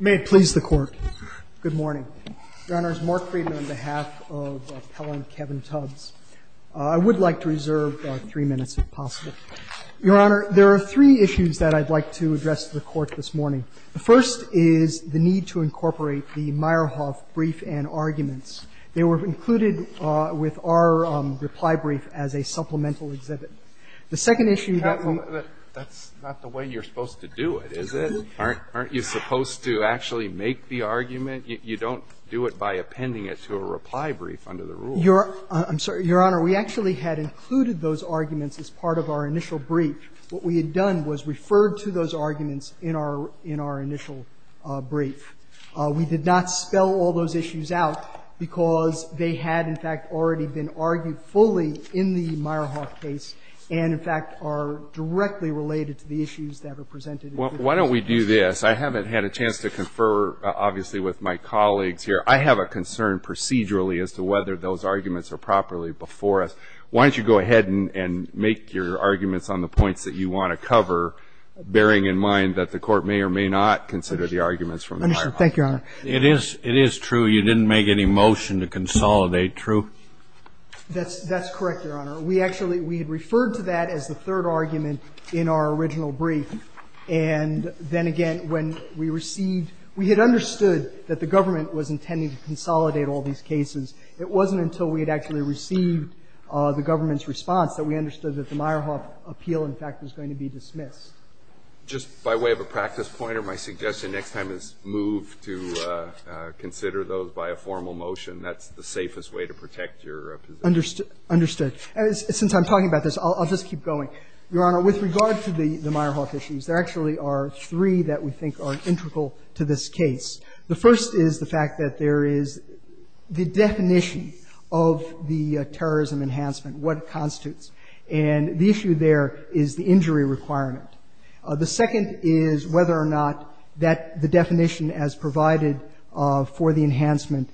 May it please the Court, good morning. Your Honor, it's Mark Friedman on behalf of Appellant Kevin Tubbs. I would like to reserve three minutes if possible. Your Honor, there are three issues that I'd like to address to the Court this morning. The first is the need to incorporate the Meyerhoff brief and arguments. They were included with our reply brief as a supplemental exhibit. The second issue that we're going to do is to address is the need to incorporate those arguments. They're not supposed to actually make the argument. You don't do it by appending it to a reply brief under the rule. I'm sorry, Your Honor. We actually had included those arguments as part of our initial brief. What we had done was referred to those arguments in our initial brief. We did not spell all those issues out because they had, in fact, already been argued fully in the Meyerhoff case and, in fact, are directly related to the issues that were presented. Why don't we do this? I haven't had a chance to confer, obviously, with my colleagues here. I have a concern procedurally as to whether those arguments are properly before us. Why don't you go ahead and make your arguments on the points that you want to cover, bearing in mind that the Court may or may not consider the arguments from the Meyerhoff case? Thank you, Your Honor. It is true you didn't make any motion to consolidate, true? That's correct, Your Honor. We actually, we had referred to that as the third argument in our original brief. And then again, when we received, we had understood that the government was intending to consolidate all these cases. It wasn't until we had actually received the government's response that we understood that the Meyerhoff appeal, in fact, was going to be dismissed. Just by way of a practice pointer, my suggestion next time is move to consider those by a formal motion. That's the safest way to protect your position. Understood. Since I'm talking about this, I'll just keep going. Your Honor, with regard to the Meyerhoff issues, there actually are three that we think are integral to this case. The first is the fact that there is the definition of the terrorism enhancement, what it constitutes. And the issue there is the injury requirement. The second is whether or not that the definition as provided for the enhancement,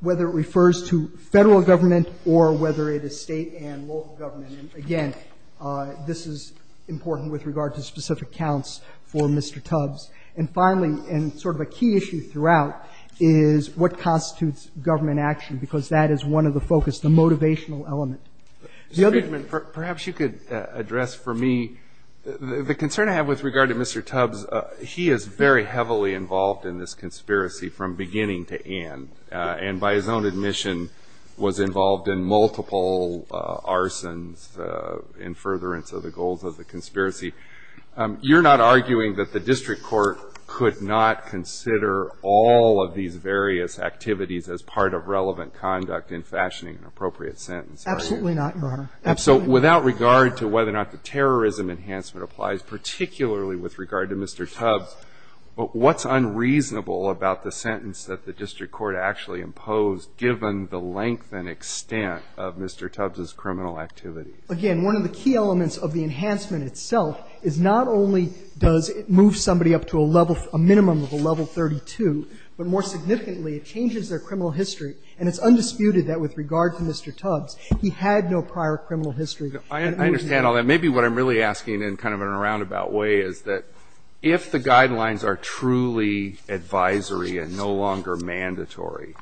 whether it refers to Federal government or whether it is State and local government. And again, this is important with regard to specific counts for Mr. Tubbs. And finally, and sort of a key issue throughout, is what constitutes government action, because that is one of the focus, the motivational element. Mr. Friedman, perhaps you could address for me the concern I have with regard to Mr. Tubbs. Because he is very heavily involved in this conspiracy from beginning to end, and by his own admission, was involved in multiple arsons in furtherance of the goals of the conspiracy. You're not arguing that the district court could not consider all of these various activities as part of relevant conduct in fashioning an appropriate sentence, are you? Absolutely not, Your Honor. Absolutely not. With regard to whether or not the terrorism enhancement applies, particularly with regard to Mr. Tubbs, what's unreasonable about the sentence that the district court actually imposed, given the length and extent of Mr. Tubbs' criminal activity? Again, one of the key elements of the enhancement itself is not only does it move somebody up to a level, a minimum of a level 32, but more significantly, it changes their criminal history. And it's undisputed that with regard to Mr. Tubbs, he had no prior criminal history. I understand all that. Maybe what I'm really asking in kind of a roundabout way is that if the guidelines are truly advisory and no longer mandatory,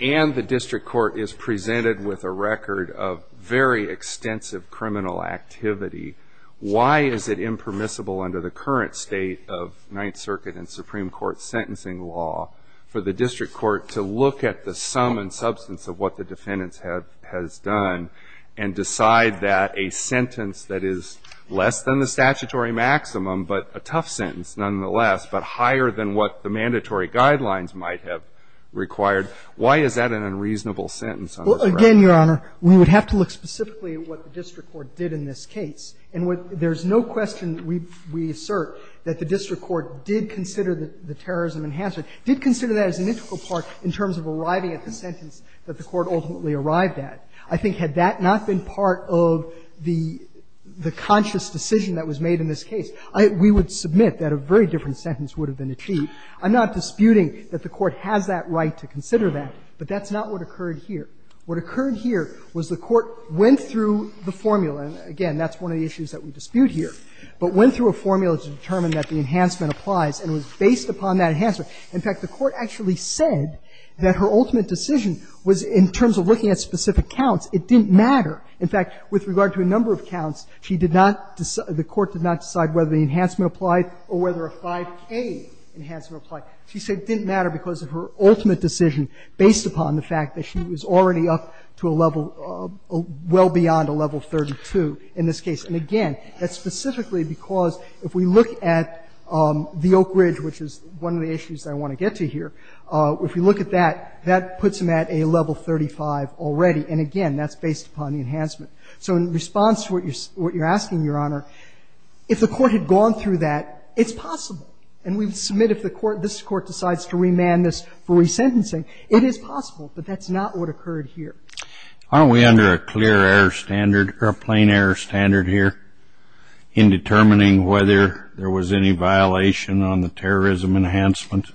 and the district court is presented with a record of very extensive criminal activity, why is it impermissible under the current state of Ninth Circuit and Supreme Court sentencing law for the defendants have done and decide that a sentence that is less than the statutory maximum, but a tough sentence nonetheless, but higher than what the mandatory guidelines might have required, why is that an unreasonable sentence on this record? Well, again, Your Honor, we would have to look specifically at what the district court did in this case. And there's no question we assert that the district court did consider the terrorism enhancement, did consider that as an integral part in terms of arriving at the sentence that the court ultimately arrived at. I think had that not been part of the conscious decision that was made in this case, I think we would submit that a very different sentence would have been achieved. I'm not disputing that the court has that right to consider that, but that's not what occurred here. What occurred here was the court went through the formula, and again, that's one of the issues that we dispute here, but went through a formula to determine that the In fact, the court actually said that her ultimate decision was in terms of looking at specific counts. It didn't matter. In fact, with regard to a number of counts, she did not decide the court did not decide whether the enhancement applied or whether a 5K enhancement applied. She said it didn't matter because of her ultimate decision based upon the fact that she was already up to a level well beyond a level 32 in this case. And again, that's specifically because if we look at the Oak Ridge, which is one of the issues I want to get to here, if we look at that, that puts them at a level 35 already. And again, that's based upon the enhancement. So in response to what you're asking, Your Honor, if the court had gone through that, it's possible. And we would submit if the court, this Court decides to remand this for resentencing, it is possible, but that's not what occurred here. Aren't we under a clear error standard or a plain error standard here in determining whether there was any violation on the terrorism enhancement?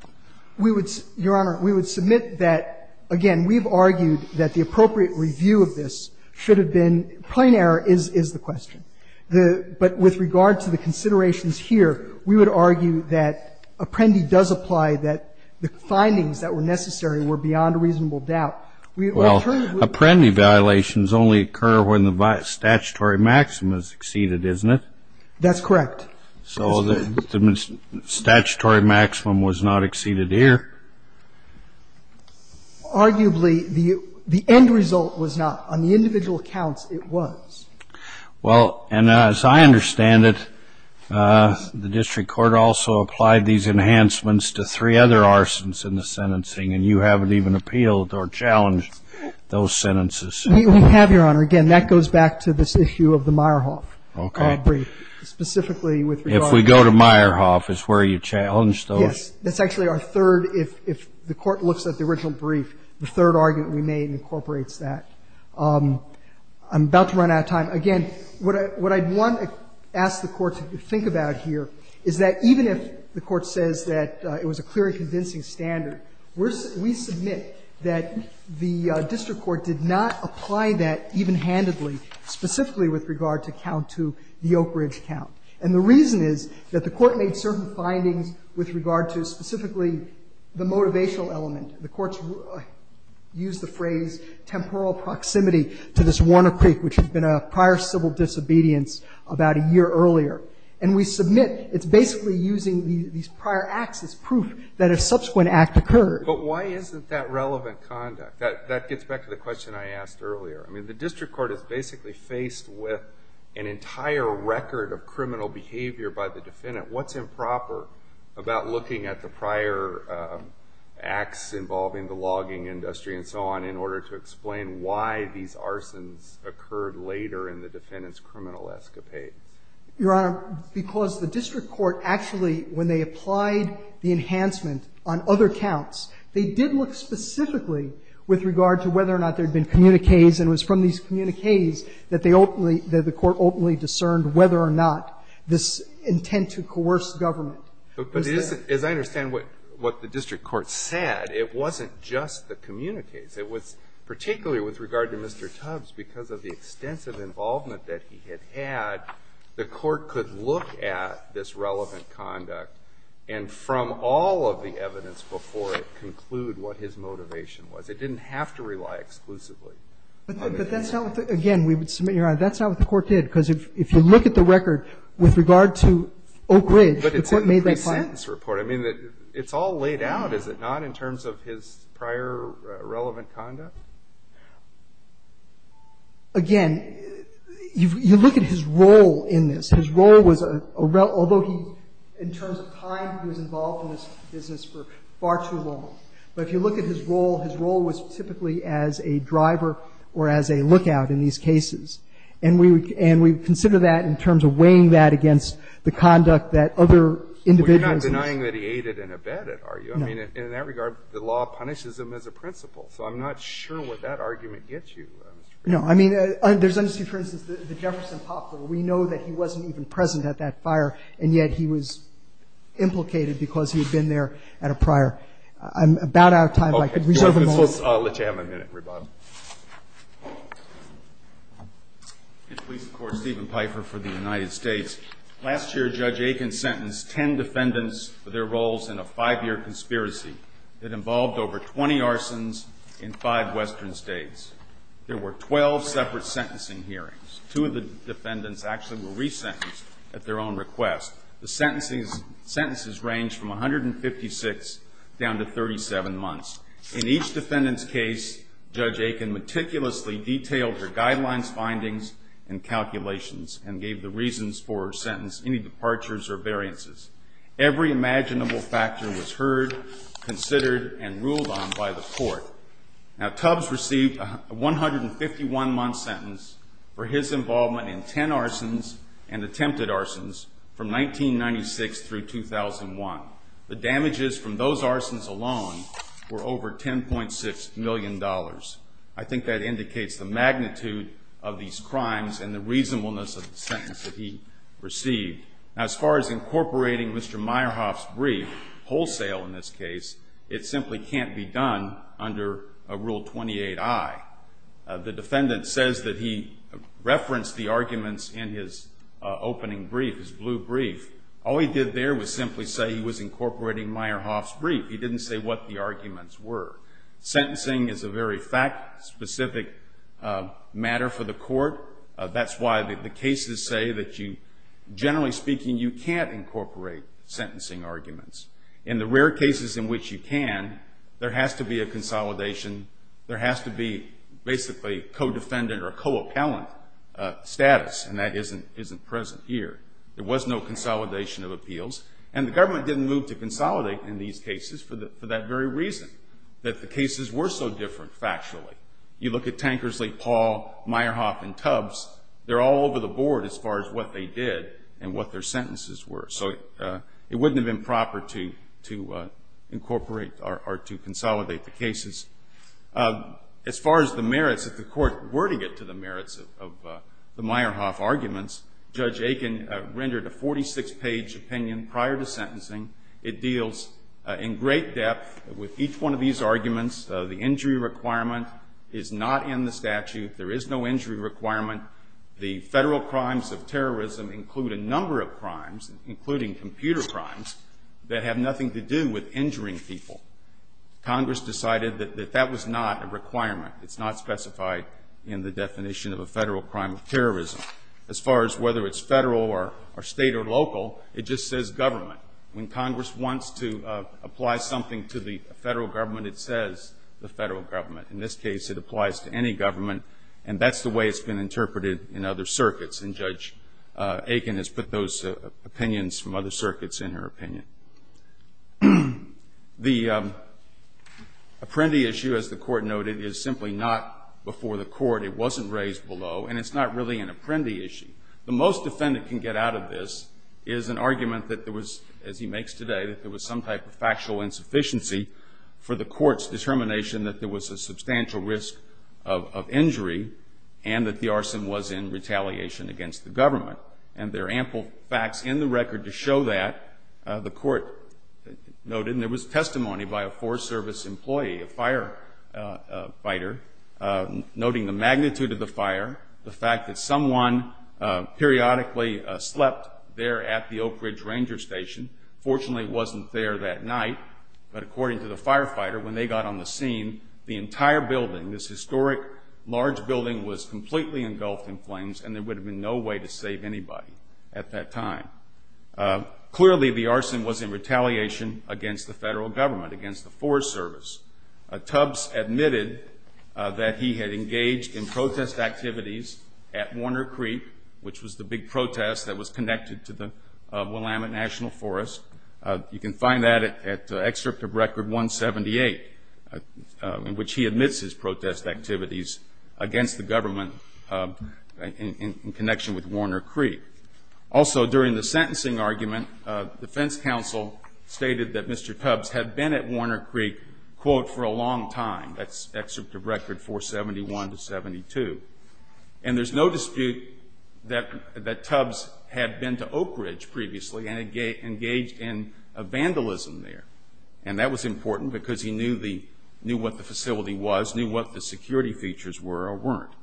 We would, Your Honor, we would submit that, again, we've argued that the appropriate review of this should have been plain error is the question. But with regard to the considerations here, we would argue that Apprendi does apply, that the findings that were necessary were beyond reasonable doubt. Well, Apprendi violations only occur when the statutory maxim has exceeded, isn't it? That's correct. So the statutory maximum was not exceeded here? Arguably, the end result was not. On the individual counts, it was. Well, and as I understand it, the district court also applied these enhancements to three other arsons in the sentencing, and you haven't even appealed or challenged those sentences. We have, Your Honor. Again, that goes back to this issue of the Meyerhof brief. Okay. Specifically with regard to the Meyerhof brief. If we go to Meyerhof, is where you challenged those? Yes. That's actually our third. If the Court looks at the original brief, the third argument we made incorporates that. I'm about to run out of time. Again, what I'd want to ask the Court to think about here is that even if the Court says that it was a clear and convincing standard, we submit that the district court did not apply that even-handedly, specifically with regard to count 2, the Oak Ridge count. And the reason is that the Court made certain findings with regard to specifically the motivational element. The Court used the phrase temporal proximity to this Warner Creek, which had been a prior civil disobedience about a year earlier. And we submit it's basically using these prior acts as proof that a subsequent act occurred. But why isn't that relevant conduct? That gets back to the question I asked earlier. I mean, the district court is basically faced with an entire record of criminal behavior by the defendant. What's improper about looking at the prior acts involving the logging industry and so on in order to explain why these arsons occurred later in the defendant's criminal escapades? Your Honor, because the district court actually, when they applied the enhancement on other counts, they did look specifically with regard to whether or not there had been communiques, and it was from these communiques that they openly, that the Court openly discerned whether or not this intent to coerce government was there. But as I understand what the district court said, it wasn't just the communiques. It was particularly with regard to Mr. Tubbs, because of the extensive involvement that he had had, the Court could look at this relevant conduct and, from all of the evidence before it, conclude what his motivation was. It didn't have to rely exclusively on it. But that's not what the, again, we would submit, Your Honor, that's not what the Court did, because if you look at the record with regard to Oak Ridge, the Court made that claim. But it's in the pre-sentence report. I mean, it's all laid out, is it not, in terms of his prior relevant conduct? Again, you look at his role in this. His role was, although he, in terms of time, he was involved in this business for far too long. But if you look at his role, his role was typically as a driver or as a lookout in these cases. And we would consider that in terms of weighing that against the conduct that other individuals had. Well, you're not denying that he aided and abetted, are you? No. I mean, in that regard, the law punishes him as a principal. So I'm not sure what that argument gets you. No. I mean, there's, for instance, the Jefferson Poplar. We know that he wasn't even present at that fire, and yet he was implicated because he had been there at a prior. I'm about out of time. I could reserve a moment. Okay. Let's have a minute, rebuttal. In police court, Stephen Pfeiffer for the United States. Last year, Judge Aiken sentenced ten defendants for their roles in a five-year conspiracy that involved over 20 arsons in five Western states. There were 12 separate sentencing hearings. Two of the defendants actually were resentenced at their own request. The sentences ranged from 156 down to 37 months. In each defendant's case, Judge Aiken meticulously detailed her guidelines, findings, and calculations, and gave the reasons for her sentence any departures or variances. Every imaginable factor was heard, considered, and ruled on by the court. Now, Tubbs received a 151-month sentence for his involvement in ten arsons and attempted arsons from 1996 through 2001. The damages from those arsons alone were over $10.6 million. I think that indicates the magnitude of these crimes and the reasonableness of the sentence that he received. Now, as far as incorporating Mr. Meyerhoff's brief, wholesale in this case, it simply can't be done under Rule 28I. The defendant says that he referenced the arguments in his opening brief, his blue brief. All he did there was simply say he was incorporating Meyerhoff's brief. He didn't say what the arguments were. Sentencing is a very fact-specific matter for the court. That's why the cases say that you, generally speaking, you can't incorporate sentencing arguments. In the rare cases in which you can, there has to be a consolidation. There has to be basically co-defendant or co-appellant status, and that isn't present here. There was no consolidation of appeals, and the government didn't move to consolidate in these cases for that very reason, that the cases were so different factually. You look at Tankersley, Paul, Meyerhoff, and Tubbs, they're all over the board as far as what they did and what their sentences were. So it wouldn't have been proper to incorporate or to consolidate the cases. As far as the merits, if the court were to get to the merits of the Meyerhoff arguments, Judge Aiken rendered a 46-page opinion prior to sentencing. It deals in great depth with each one of these arguments, the injury requirement is not in the statute. There is no injury requirement. The federal crimes of terrorism include a number of crimes, including computer crimes, that have nothing to do with injuring people. Congress decided that that was not a requirement. It's not specified in the definition of a federal crime of terrorism. As far as whether it's federal or state or local, it just says government. When Congress wants to apply something to the federal government, it says the federal government. In this case, it applies to any government, and that's the way it's been interpreted in other circuits, and Judge Aiken has put those opinions from other circuits in her opinion. The Apprendi issue, as the Court noted, is simply not before the Court. It wasn't raised below, and it's not really an Apprendi issue. The most defendant can get out of this is an argument that there was, as he makes today, that there was some type of factual insufficiency for the Court's determination that there was a substantial risk of injury and that the arson was in retaliation against the government. And there are ample facts in the record to show that. The Court noted, and there was testimony by a Forest Service employee, a firefighter, noting the magnitude of the fire, the fact that someone periodically slept there at the Oak Ridge Ranger Station. Fortunately, it wasn't there that night, but according to the firefighter, when they got on the scene, the entire building, this historic large building, was completely engulfed in flames, and there would have been no way to save anybody at that time. Clearly, the arson was in retaliation against the federal government, against the Forest Service. Tubbs admitted that he had engaged in protest activities at Warner Creek, which was the big protest that was connected to the Willamette National Forest. You can find that at Excerpt of Record 178, in which he admits his protest activities against the government in connection with Warner Creek. Also, during the sentencing argument, the defense counsel stated that Mr. Tubbs had been at Warner Creek, quote, for a long time. That's Excerpt of Record 471-72. And there's no dispute that Tubbs had been to Oak Ridge previously and engaged in vandalism there. And that was important because he knew what the facility was, knew what the security features were or weren't.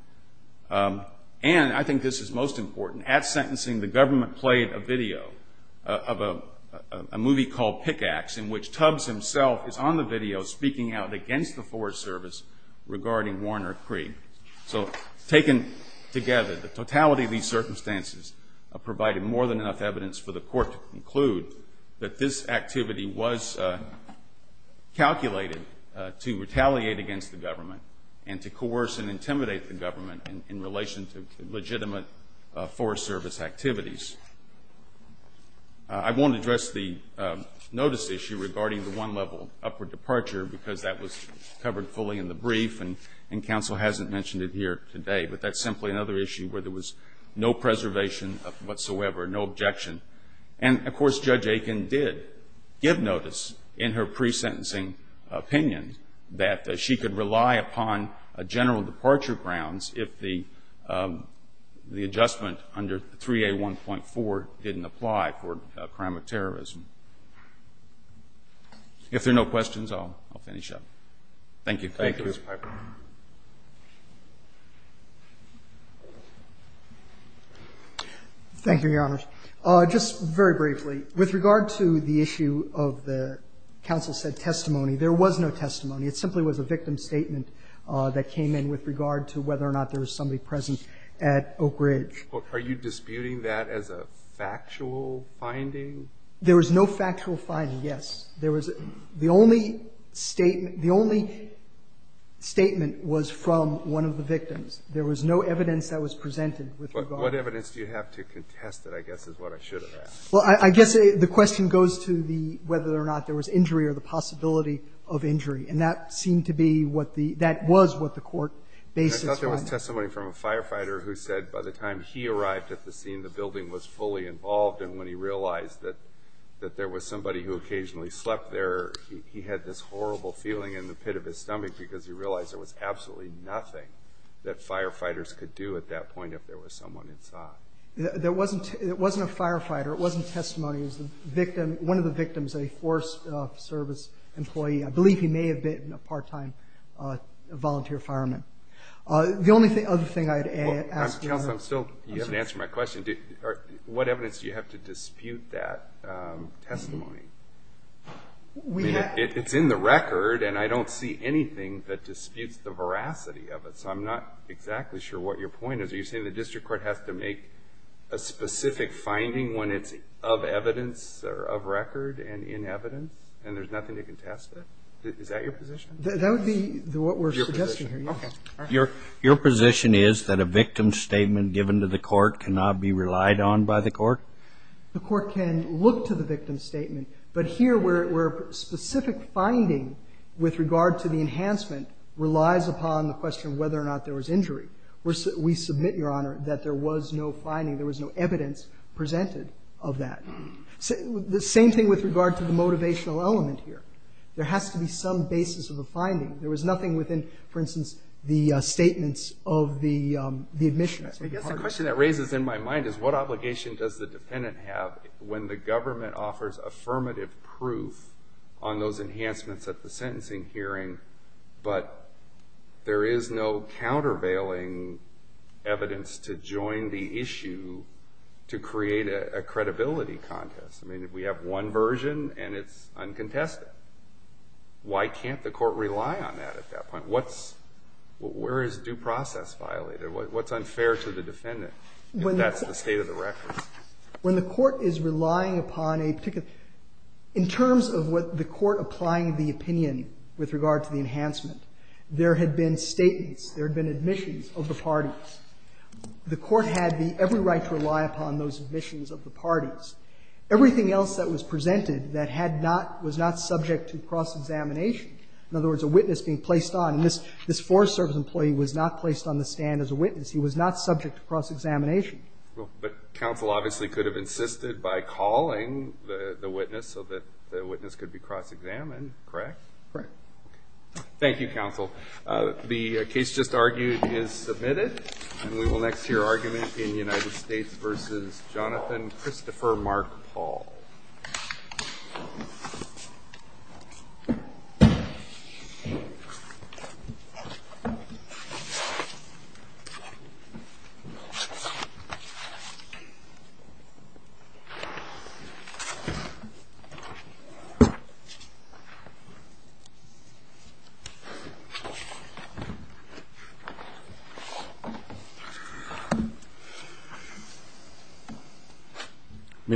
And I think this is most important. At sentencing, the government played a video of a movie called Pickax, in which Tubbs himself is on the video speaking out against the Forest Service regarding Warner Creek. So taken together, the totality of these circumstances provided more than enough evidence for the court to conclude that this activity was calculated to retaliate against the government and to coerce and intimidate the government in relation to legitimate Forest Service activities. I won't address the notice issue regarding the one-level upward departure because that was covered fully in the brief and counsel hasn't mentioned it here today. But that's simply another issue where there was no preservation whatsoever, no objection. And, of course, Judge Aiken did give notice in her pre-sentencing opinion that she could rely upon general departure grounds if the adjustment under 3A1.4 didn't apply for a crime of terrorism. If there are no questions, I'll finish up. Thank you. Thank you. Thank you, Your Honors. Just very briefly, with regard to the issue of the counsel said testimony, there was no testimony. It simply was a victim statement that came in with regard to whether or not there was somebody present at Oak Ridge. Are you disputing that as a factual finding? There was no factual finding, yes. There was the only statement. The only statement was from one of the victims. There was no evidence that was presented with regard to that. What evidence do you have to contest it, I guess, is what I should have asked. Well, I guess the question goes to the whether or not there was injury or the possibility of injury. And that seemed to be what the – that was what the court based its findings. I thought there was testimony from a firefighter who said by the time he arrived at the scene, the building was fully involved. And when he realized that there was somebody who occasionally slept there, he had this horrible feeling in the pit of his stomach because he realized there was absolutely nothing that firefighters could do at that point if there was someone inside. It wasn't a firefighter. It wasn't testimony. It was the victim – one of the victims, a forced service employee. I believe he may have been a part-time volunteer fireman. The only other thing I'd ask you. Counsel, I'm still – you haven't answered my question. What evidence do you have to dispute that testimony? It's in the record, and I don't see anything that disputes the veracity of it. So I'm not exactly sure what your point is. So you're saying the district court has to make a specific finding when it's of evidence or of record and in evidence, and there's nothing to contest it? Is that your position? That would be what we're suggesting here. Okay. Your position is that a victim's statement given to the court cannot be relied on by the court? The court can look to the victim's statement, but here where specific finding with regard to the enhancement relies upon the question of whether or not there was injury. We submit, Your Honor, that there was no finding. There was no evidence presented of that. The same thing with regard to the motivational element here. There has to be some basis of a finding. There was nothing within, for instance, the statements of the admission. I guess the question that raises in my mind is what obligation does the defendant have when the government offers affirmative proof on those enhancements at the sentencing hearing, but there is no countervailing evidence to join the issue to create a credibility contest? I mean, we have one version, and it's uncontested. Why can't the court rely on that at that point? What's – where is due process violated? What's unfair to the defendant if that's the state of the record? When the court is relying upon a particular – in terms of what the court applying the opinion with regard to the enhancement, there had been statements, there had been admissions of the parties. The court had every right to rely upon those admissions of the parties. Everything else that was presented that had not – was not subject to cross-examination, in other words, a witness being placed on. And this Forest Service employee was not placed on the stand as a witness. He was not subject to cross-examination. Well, but counsel obviously could have insisted by calling the witness so that the witness could be cross-examined, correct? Correct. Thank you, counsel. The case just argued is submitted. And we will next hear argument in United States v. Jonathan Christopher Mark Paul. Thank you.